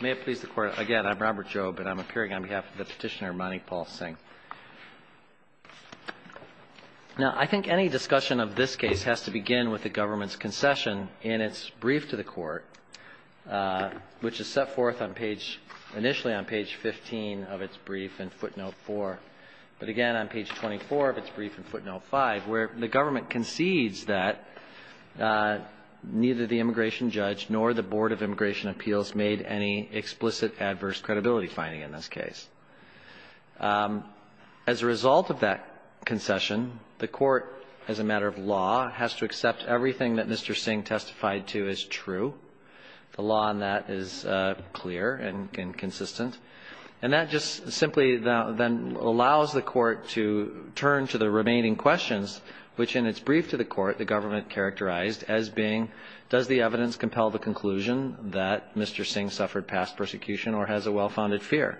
May it please the Court. Again, I'm Robert Jobe, and I'm appearing on behalf of the petitioner, Mani Palsing. Now, I think any discussion of this case has to begin with the government's concession in its brief to the Court, which is set forth initially on page 15 of its brief in footnote 4, but again on page 24 of its brief in footnote 5, where the government concedes that neither the immigration judge nor the Board of Immigration Appeals made any explicit adverse credibility finding in this case. As a result of that concession, the Court, as a matter of law, has to accept everything that Mr. Singh testified to as true. The law on that is clear and consistent. And that just simply then allows the Court to turn to the remaining questions, which in its brief to the Court, the government characterized as being, does the evidence compel the conclusion that Mr. Singh suffered past persecution or has a well-founded fear?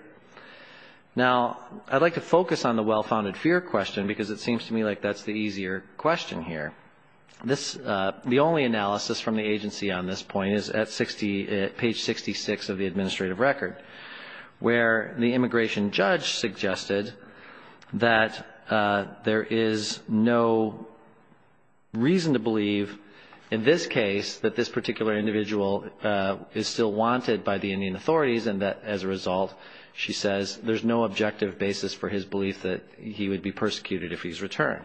Now, I'd like to focus on the well-founded fear question because it seems to me like that's the easier question here. The only analysis from the agency on this point is at page 66 of the administrative record, where the immigration judge suggested that there is no reason to believe in this case that this particular individual is still wanted by the Indian authorities and that, as a result, she says there's no objective basis for his belief that he would be persecuted if he's returned.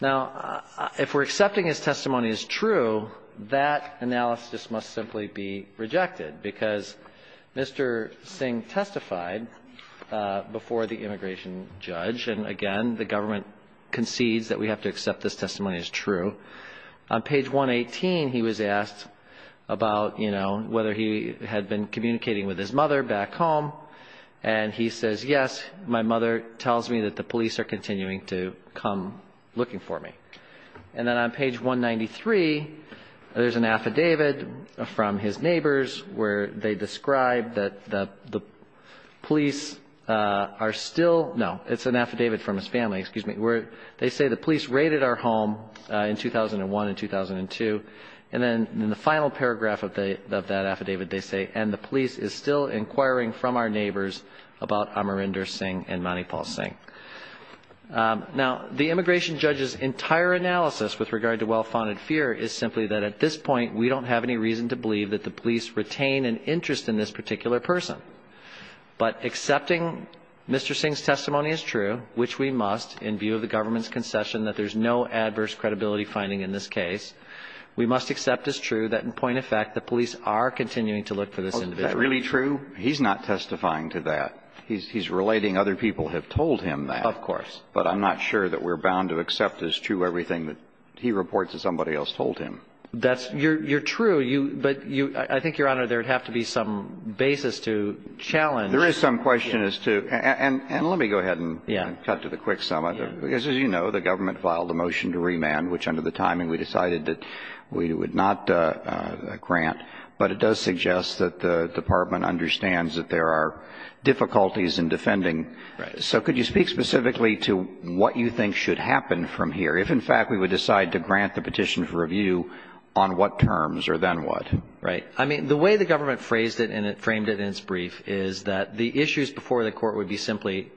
Now, if we're accepting his testimony as true, that analysis must simply be rejected because Mr. Singh testified before the immigration judge. And, again, the government concedes that we have to accept this testimony as true. On page 118, he was asked about, you know, whether he had been communicating with his mother back home. And he says, yes, my mother tells me that the police are continuing to come looking for me. And then on page 193, there's an affidavit from his neighbors where they describe that the police are still no, it's an affidavit from his family, excuse me, where they say the police raided our home in 2001 and 2002. And then in the final paragraph of that affidavit, they say, and the police is still inquiring from our neighbors about Amarinder Singh and Manipal Singh. Now, the immigration judge's entire analysis with regard to well-founded fear is simply that at this point, we don't have any reason to believe that the police retain an interest in this particular person. But accepting Mr. Singh's testimony as true, which we must in view of the government's concession that there's no adverse credibility finding in this case, we must accept as true that, in point of fact, the police are continuing to look for this individual. Is that really true? He's not testifying to that. He's relating other people have told him that. Of course. But I'm not sure that we're bound to accept as true everything that he reports that somebody else told him. You're true, but I think, Your Honor, there would have to be some basis to challenge. There is some question as to, and let me go ahead and cut to the quick summit. As you know, the government filed a motion to remand, which under the timing, we decided that we would not grant. But it does suggest that the department understands that there are difficulties in defending. Right. So could you speak specifically to what you think should happen from here, if, in fact, we would decide to grant the petition for review on what terms or then what? Right. I mean, the way the government phrased it and it framed it in its brief is that the issues before the court would be simply,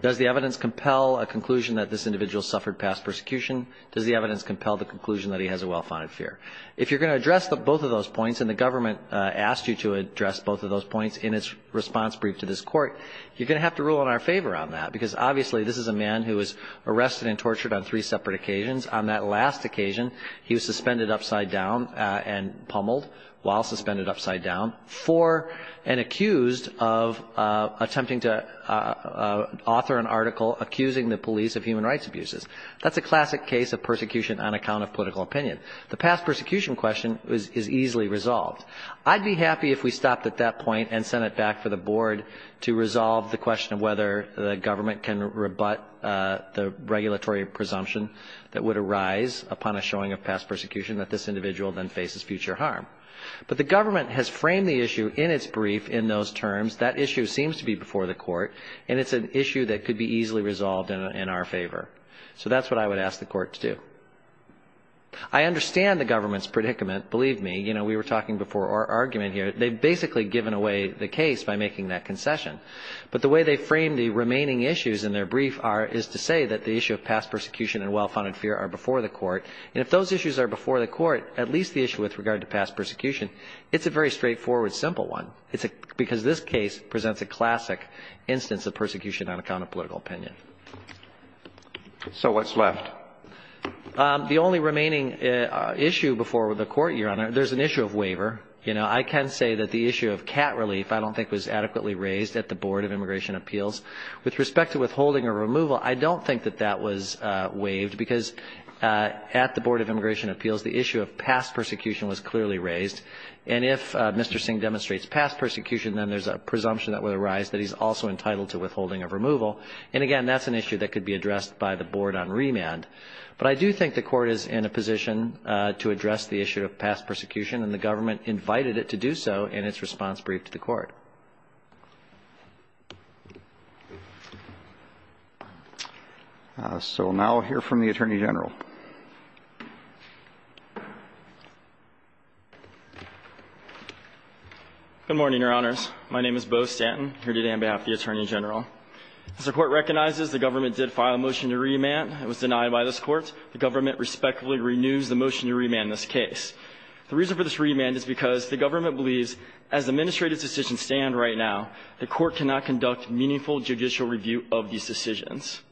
does the evidence compel a conclusion that this individual suffered past persecution? Does the evidence compel the conclusion that he has a well-founded fear? If you're going to address both of those points, and the government asked you to address both of those points in its response brief to this court, you're going to have to rule in our favor on that because, obviously, this is a man who was arrested and tortured on three separate occasions. On that last occasion, he was suspended upside down and pummeled, while suspended upside down, for and accused of attempting to author an article accusing the police of human rights abuses. That's a classic case of persecution on account of political opinion. The past persecution question is easily resolved. I'd be happy if we stopped at that point and sent it back for the board to resolve the question of whether the government can rebut the regulatory presumption that would arise upon a showing of past persecution, that this individual then faces future harm. But the government has framed the issue in its brief in those terms. That issue seems to be before the court, and it's an issue that could be easily resolved in our favor. So that's what I would ask the court to do. I understand the government's predicament, believe me. You know, we were talking before our argument here. They've basically given away the case by making that concession. But the way they frame the remaining issues in their brief is to say that the issue of past persecution and well-founded fear are before the court. And if those issues are before the court, at least the issue with regard to past persecution, it's a very straightforward, simple one because this case presents a classic instance of persecution on account of political opinion. So what's left? The only remaining issue before the court, Your Honor, there's an issue of waiver. You know, I can say that the issue of cat relief I don't think was adequately raised at the Board of Immigration Appeals. With respect to withholding or removal, I don't think that that was waived because at the Board of Immigration Appeals, the issue of past persecution was clearly raised. And if Mr. Singh demonstrates past persecution, then there's a presumption that would arise that he's also entitled to withholding of removal. And, again, that's an issue that could be addressed by the board on remand. But I do think the court is in a position to address the issue of past persecution, and the government invited it to do so in its response brief to the court. So we'll now hear from the Attorney General. Good morning, Your Honors. My name is Beau Stanton. I'm here today on behalf of the Attorney General. As the court recognizes, the government did file a motion to remand. It was denied by this court. The government respectfully renews the motion to remand this case. The reason for this remand is because the government believes as the administrative decisions stand right now, the court cannot conduct meaningful judicial review of these decisions.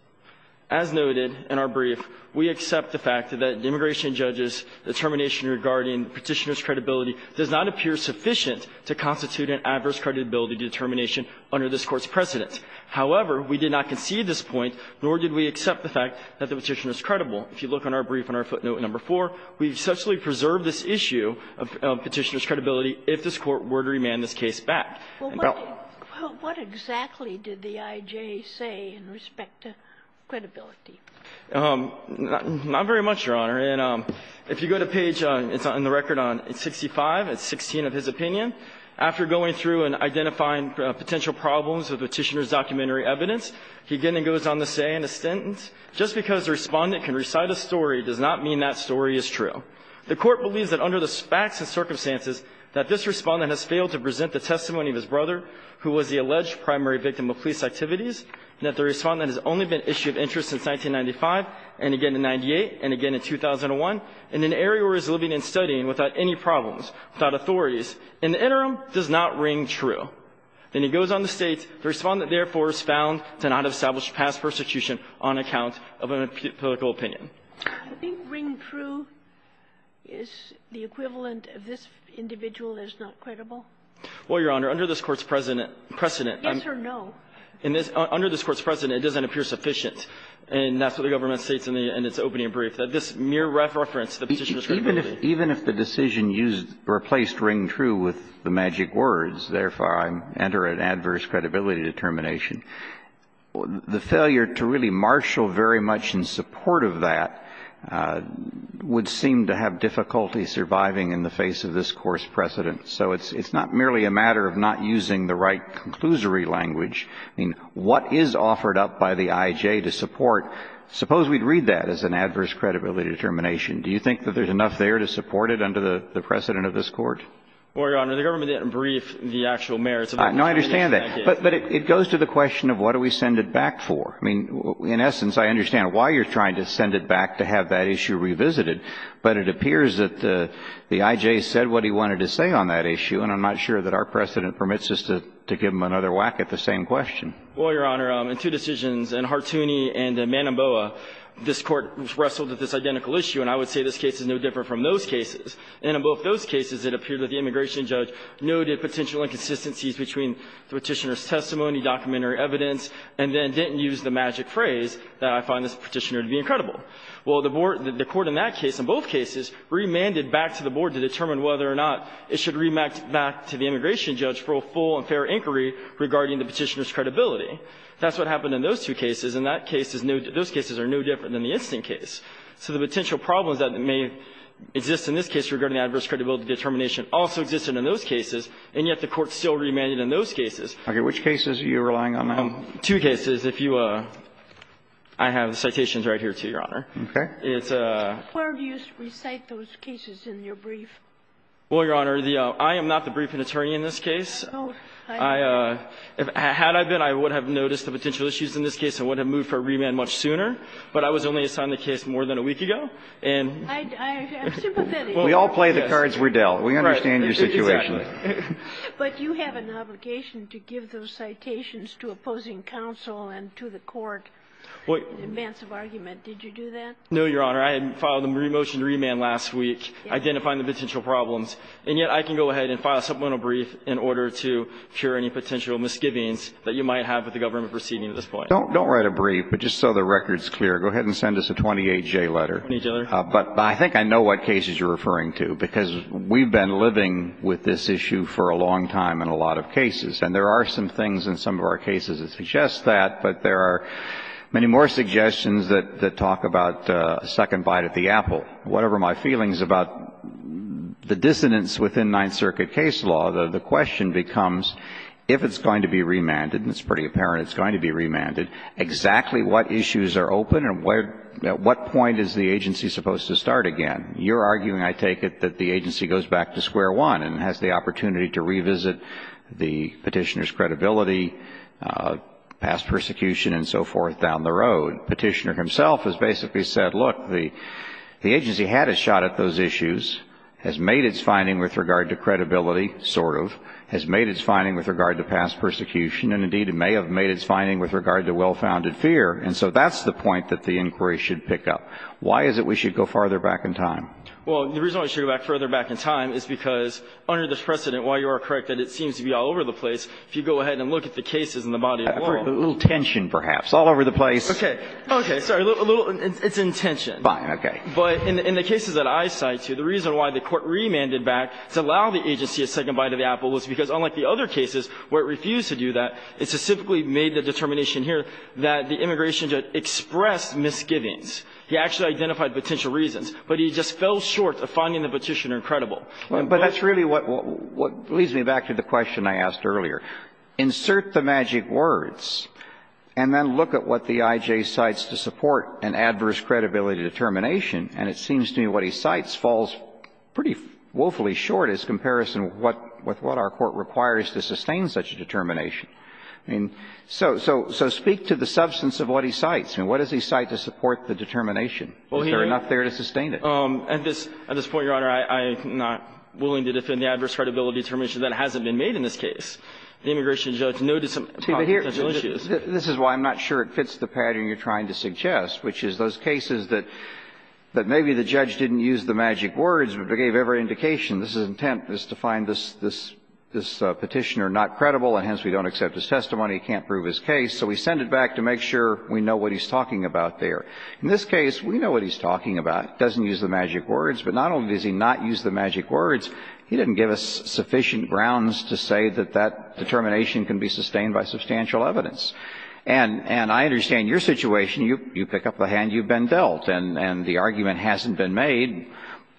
As noted in our brief, we accept the fact that the immigration judge's determination regarding petitioner's credibility does not appear sufficient to constitute an adverse credibility determination under this Court's precedence. However, we did not concede this point, nor did we accept the fact that the petitioner is credible. If you look on our brief, on our footnote number 4, we essentially preserve this issue of petitioner's credibility if this Court were to remand this case back. Well, what exactly did the I.J. say in respect to credibility? Not very much, Your Honor. And if you go to page, it's on the record on 65, it's 16 of his opinion. After going through and identifying potential problems with the petitioner's documentary evidence, he again goes on to say in a sentence, just because the Respondent can recite a story does not mean that story is true. The Court believes that under the facts and circumstances that this Respondent has failed to present the testimony of his brother, who was the alleged primary victim of police activities, and that the Respondent has only been issue of interest since 1995 and again in 1998 and again in 2001 in an area where he's living and studying without any problems, without authorities. In the interim, does not ring true. Then he goes on to state, the Respondent, therefore, is found to not have established past persecution on account of a political opinion. I think ring true is the equivalent of this individual is not credible. Well, Your Honor, under this Court's precedent, precedent. Yes or no? Under this Court's precedent, it doesn't appear sufficient. And that's what the government states in its opening brief, that this mere reference to the petitioner's credibility. Even if the decision replaced ring true with the magic words, therefore, I enter an adverse credibility determination, the failure to really marshal very much in support of that would seem to have difficulty surviving in the face of this Court's precedent. So it's not merely a matter of not using the right conclusory language. I mean, what is offered up by the IJ to support? Suppose we'd read that as an adverse credibility determination. Do you think that there's enough there to support it under the precedent of this Court? Well, Your Honor, the government didn't brief the actual mayor. No, I understand that. But it goes to the question of what do we send it back for. I mean, in essence, I understand why you're trying to send it back to have that issue revisited. But it appears that the IJ said what he wanted to say on that issue, and I'm not sure that our precedent permits us to give him another whack at the same question. Well, Your Honor, in two decisions, in Hartooni and Manomboa, this Court wrestled with this identical issue. And I would say this case is no different from those cases. And in both those cases, it appeared that the immigration judge noted potential inconsistencies between the Petitioner's testimony, documentary evidence, and then didn't use the magic phrase that I find this Petitioner to be incredible. Well, the Court in that case, in both cases, remanded back to the Board to determine whether or not it should remand back to the immigration judge for a full and fair inquiry regarding the Petitioner's credibility. That's what happened in those two cases. In that case, those cases are no different than the instant case. So the potential problems that may exist in this case regarding adverse credibility determination also existed in those cases, and yet the Court still remanded in those cases. Okay. Which cases are you relying on now? Two cases. If you – I have the citations right here, too, Your Honor. Okay. It's a – Where do you recite those cases in your brief? Well, Your Honor, I am not the briefing attorney in this case. Oh. Had I been, I would have noticed the potential issues in this case and would have moved for a remand much sooner, but I was only assigned the case more than a week ago, and – I'm sympathetic. We all play the cards we're dealt. We understand your situation. Right. Exactly. But you have an obligation to give those citations to opposing counsel and to the Court in advance of argument. Did you do that? No, Your Honor. I had filed a motion to remand last week identifying the potential problems, and yet I can go ahead and file a supplemental brief in order to cure any potential misgivings that you might have with the government proceeding at this point. Don't write a brief, but just so the record is clear, go ahead and send us a 28-J letter. Thank you, Your Honor. But I think I know what cases you're referring to, because we've been living with this issue for a long time in a lot of cases, and there are some things in some of our cases that suggest that, but there are many more suggestions that talk about a second bite at the apple. Whatever my feelings about the dissonance within Ninth Circuit case law, the question becomes, if it's going to be remanded, and it's pretty apparent it's going to be remanded, exactly what issues are open and at what point is the agency supposed to start again? You're arguing, I take it, that the agency goes back to square one and has the opportunity to revisit the petitioner's credibility, past persecution and so forth down the road. Petitioner himself has basically said, look, the agency had a shot at those issues, has made its finding with regard to credibility, sort of, has made its finding with regard to past persecution, and, indeed, it may have made its finding with regard to well-founded fear. And so that's the point that the inquiry should pick up. Why is it we should go farther back in time? Well, the reason why we should go further back in time is because under this precedent, while you are correct that it seems to be all over the place, if you go ahead and look at the cases in the body of law. A little tension, perhaps. All over the place. Okay. Okay. Sorry. A little. It's intention. Fine. Okay. But in the cases that I cite here, the reason why the Court remanded back to allow the agency a second bite of the apple was because, unlike the other cases where it refused to do that, it specifically made the determination here that the immigration judge expressed misgivings. He actually identified potential reasons. But he just fell short of finding the petitioner credible. But that's really what leads me back to the question I asked earlier. Insert the magic words and then look at what the I.J. cites to support an adverse credibility determination, and it seems to me what he cites falls pretty woefully short as comparison with what our Court requires to sustain such a determination. So speak to the substance of what he cites. I mean, what does he cite to support the determination? Is there enough there to sustain it? At this point, Your Honor, I am not willing to defend the adverse credibility determination that hasn't been made in this case. The immigration judge noted some potential issues. This is why I'm not sure it fits the pattern you're trying to suggest, which is those cases that maybe the judge didn't use the magic words, but they gave every indication. His intent is to find this petitioner not credible, and hence we don't accept his testimony. He can't prove his case. So we send it back to make sure we know what he's talking about there. In this case, we know what he's talking about. He doesn't use the magic words. But not only does he not use the magic words. He didn't give us sufficient grounds to say that that determination can be sustained by substantial evidence. And I understand your situation. You pick up the hand. You've been dealt. And the argument hasn't been made.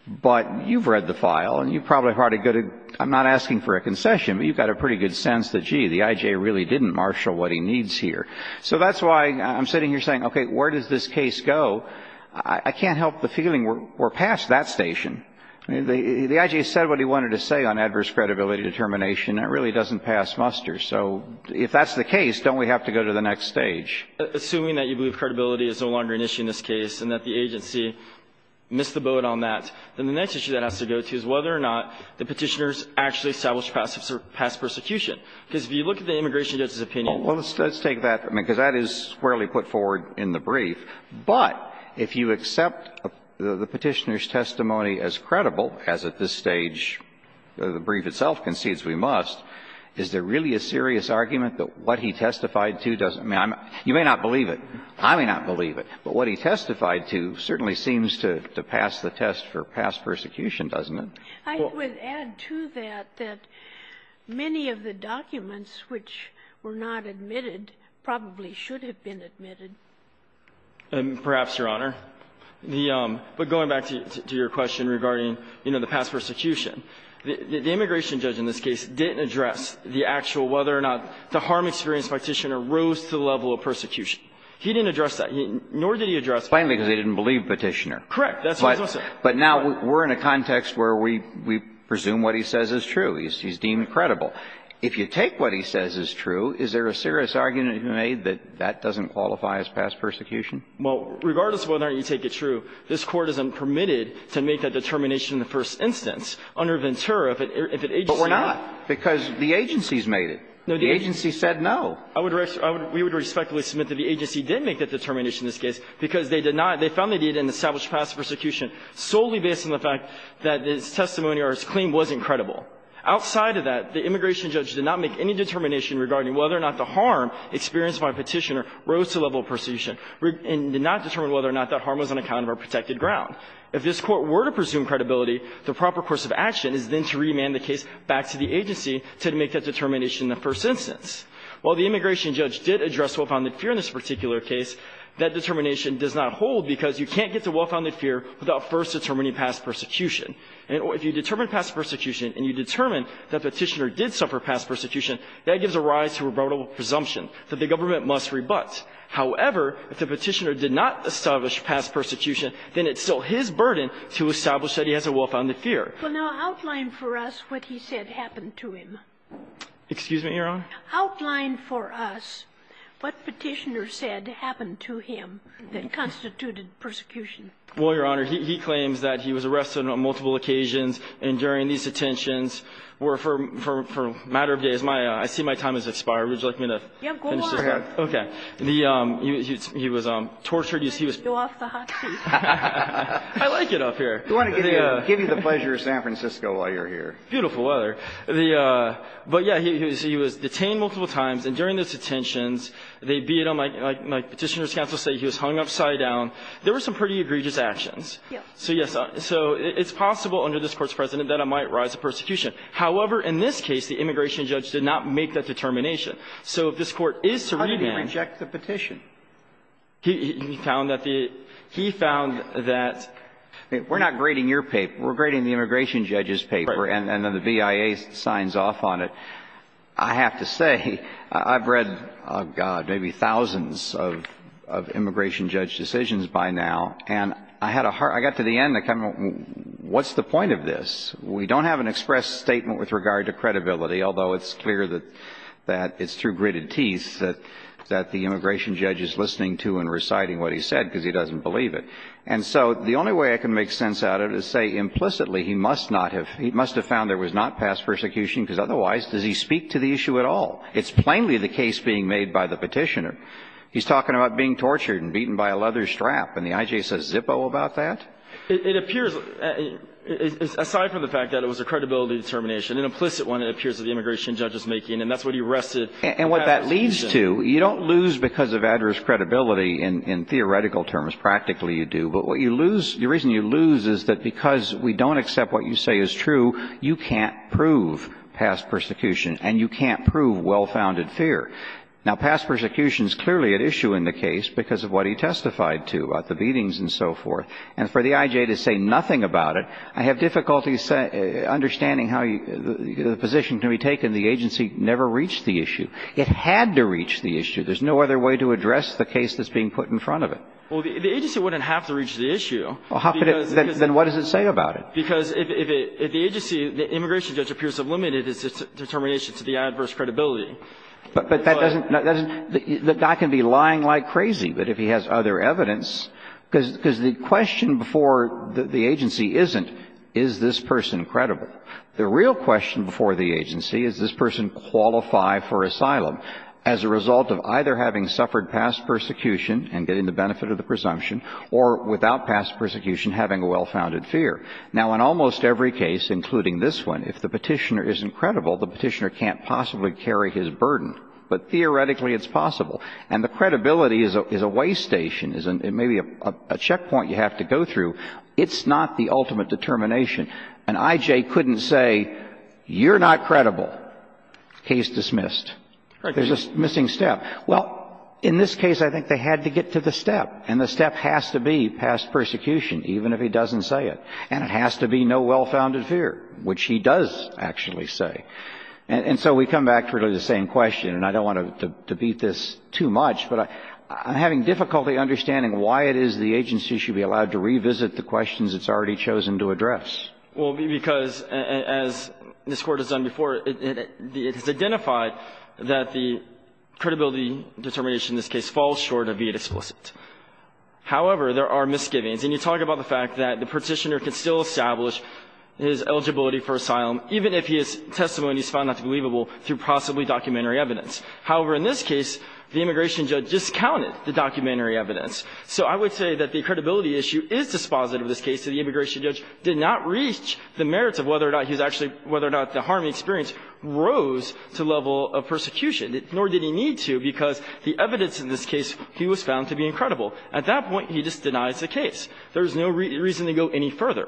But you've read the file, and you probably have a good idea. I'm not asking for a concession, but you've got a pretty good sense that, gee, the I.J. really didn't marshal what he needs here. So that's why I'm sitting here saying, okay, where does this case go? I can't help the feeling we're past that station. I mean, the I.J. said what he wanted to say on adverse credibility determination. That really doesn't pass muster. So if that's the case, don't we have to go to the next stage? Assuming that you believe credibility is no longer an issue in this case and that the agency missed the boat on that, then the next issue that has to go to is whether or not the Petitioner's actually established past persecution. Because if you look at the immigration judge's opinion. Well, let's take that. I mean, because that is squarely put forward in the brief. But if you accept the Petitioner's testimony as credible, as at this stage the brief itself concedes we must, is there really a serious argument that what he testified to doesn't? I mean, you may not believe it. I may not believe it. But what he testified to certainly seems to pass the test for past persecution, doesn't it? I would add to that that many of the documents which were not admitted probably should have been admitted. Perhaps, Your Honor. But going back to your question regarding, you know, the past persecution, the immigration judge in this case didn't address the actual whether or not the harm experience Petitioner rose to the level of persecution. He didn't address that. Nor did he address that. Plainly because he didn't believe Petitioner. Correct. But now we're in a context where we presume what he says is true. He's deemed credible. If you take what he says is true, is there a serious argument to be made that that doesn't qualify as past persecution? Well, regardless of whether or not you take it true, this Court isn't permitted to make that determination in the first instance under Ventura if an agency made it. But we're not, because the agency's made it. The agency said no. I would raise the point that we would respectfully submit that the agency did make that determination in this case because they did not. They found they did in established past persecution solely based on the fact that his testimony or his claim wasn't credible. Outside of that, the immigration judge did not make any determination regarding whether or not the harm experienced by Petitioner rose to the level of persecution and did not determine whether or not that harm was on account of our protected ground. If this Court were to presume credibility, the proper course of action is then to remand the case back to the agency to make that determination in the first instance. While the immigration judge did address what found to be fear in this particular case, that determination does not hold because you can't get to well-founded fear without first determining past persecution. And if you determine past persecution and you determine that Petitioner did suffer past persecution, that gives a rise to a rebuttable presumption that the government must rebut. However, if the Petitioner did not establish past persecution, then it's still his burden to establish that he has a well-founded fear. Kagan. Well, now, outline for us what he said happened to him. Excuse me, Your Honor? Outline for us what Petitioner said happened to him that constituted persecution. Well, Your Honor, he claims that he was arrested on multiple occasions and during these detentions, where for a matter of days, my – I see my time has expired. Would you like me to finish this up? Yeah, go on. Okay. The – he was tortured. Let's go off the hot seat. I like it up here. We want to give you the pleasure of San Francisco while you're here. Beautiful weather. But, yeah, he was detained multiple times. And during those detentions, they beat him, like Petitioner's counsel say, he was hung upside down. There were some pretty egregious actions. So, yes, so it's possible under this Court's precedent that there might rise to persecution. However, in this case, the immigration judge did not make that determination. So if this Court is to remand – How did he reject the petition? He found that the – he found that – We're not grading your paper. We're grading the immigration judge's paper. Right. And then the BIA signs off on it. I have to say, I've read, oh, God, maybe thousands of immigration judge decisions by now. And I had a hard – I got to the end, what's the point of this? We don't have an express statement with regard to credibility, although it's clear that it's through gritted teeth that the immigration judge is listening to and reciting what he said because he doesn't believe it. And so the only way I can make sense out of it is say implicitly he must not have – he must have found there was not past persecution, because otherwise, does he speak to the issue at all? It's plainly the case being made by the petitioner. He's talking about being tortured and beaten by a leather strap, and the I.J. says zippo about that? It appears – aside from the fact that it was a credibility determination, an implicit one, it appears that the immigration judge is making, and that's what he rested – And what that leads to, you don't lose because of adverse credibility in theoretical terms. Practically, you do. But what you lose – the reason you lose is that because we don't accept what you say is true, you can't prove past persecution, and you can't prove well-founded fear. Now, past persecution is clearly at issue in the case because of what he testified to about the beatings and so forth. And for the I.J. to say nothing about it, I have difficulty understanding how the position can be taken. The agency never reached the issue. It had to reach the issue. There's no other way to address the case that's being put in front of it. Well, the agency wouldn't have to reach the issue. Well, how could it – then what does it say about it? Because if the agency – the immigration judge appears to have limited his determination to the adverse credibility. But that doesn't – that guy can be lying like crazy, but if he has other evidence – because the question before the agency isn't, is this person credible? The real question before the agency is, does this person qualify for asylum as a result of either having suffered past persecution and getting the benefit of the presumption or without past persecution having a well-founded fear? Now, in almost every case, including this one, if the Petitioner isn't credible, the Petitioner can't possibly carry his burden. But theoretically, it's possible. And the credibility is a way station, is maybe a checkpoint you have to go through. It's not the ultimate determination. An I.J. couldn't say, you're not credible, case dismissed. There's a missing step. Well, in this case, I think they had to get to the step, and the step has to be past persecution, even if he doesn't say it. And it has to be no well-founded fear, which he does actually say. And so we come back to really the same question, and I don't want to beat this too much, but I'm having difficulty understanding why it is the agency should be allowed to revisit the questions it's already chosen to address. Well, because, as this Court has done before, it has identified that the credibility determination in this case falls short of being explicit. However, there are misgivings. And you talk about the fact that the Petitioner can still establish his eligibility for asylum, even if his testimony is found not to be believable through possibly documentary evidence. However, in this case, the immigration judge discounted the documentary evidence. So I would say that the credibility issue is dispositive of this case. The immigration judge did not reach the merits of whether or not he was actually – whether or not the harm he experienced rose to the level of persecution, nor did he need to, because the evidence in this case, he was found to be incredible. At that point, he just denies the case. There is no reason to go any further.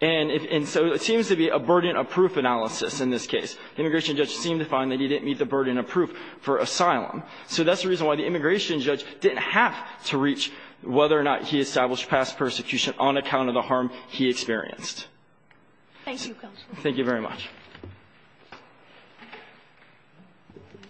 And so it seems to be a burden of proof analysis in this case. The immigration judge seemed to find that he didn't meet the burden of proof for asylum. So that's the reason why the immigration judge didn't have to reach whether or not he established past persecution on account of the harm he experienced. Thank you, Counsel. Thank you very much.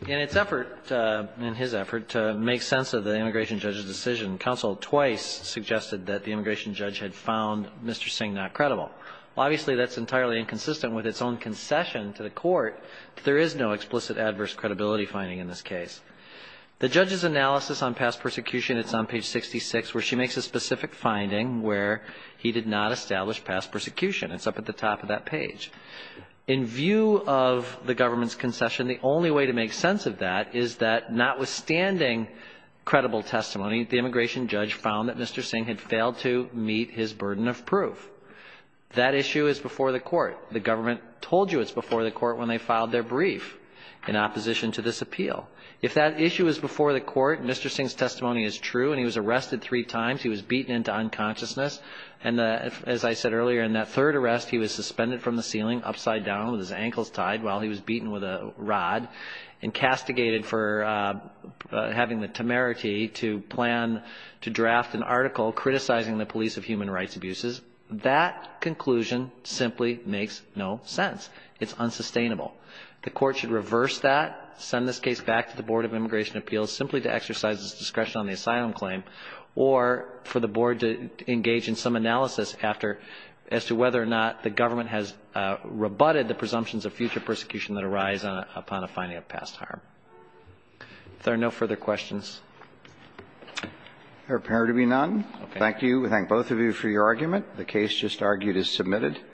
In its effort, in his effort to make sense of the immigration judge's decision, counsel twice suggested that the immigration judge had found Mr. Singh not credible. Obviously, that's entirely inconsistent with its own concession to the Court that there is no explicit adverse credibility finding in this case. The judge's analysis on past persecution, it's on page 66, where she makes a specific finding where he did not establish past persecution. It's up at the top of that page. In view of the government's concession, the only way to make sense of that is that notwithstanding credible testimony, the immigration judge found that Mr. Singh had failed to meet his burden of proof. That issue is before the Court. The government told you it's before the Court when they filed their brief in opposition to this appeal. If that issue is before the Court, Mr. Singh's testimony is true, and he was arrested three times. He was beaten into unconsciousness. And as I said earlier, in that third arrest, he was suspended from the ceiling, upside down with his ankles tied while he was beaten with a rod, and castigated for having the temerity to plan to draft an article criticizing the police of human rights abuses. That conclusion simply makes no sense. It's unsustainable. The Court should reverse that, send this case back to the Board of Immigration Appeals simply to exercise its discretion on the asylum claim, or for the Board to engage in some analysis after as to whether or not the government has rebutted the presumptions of future persecution that arise upon a finding of past harm. If there are no further questions. There appear to be none. Thank you. We thank both of you for your argument. The case just argued is submitted.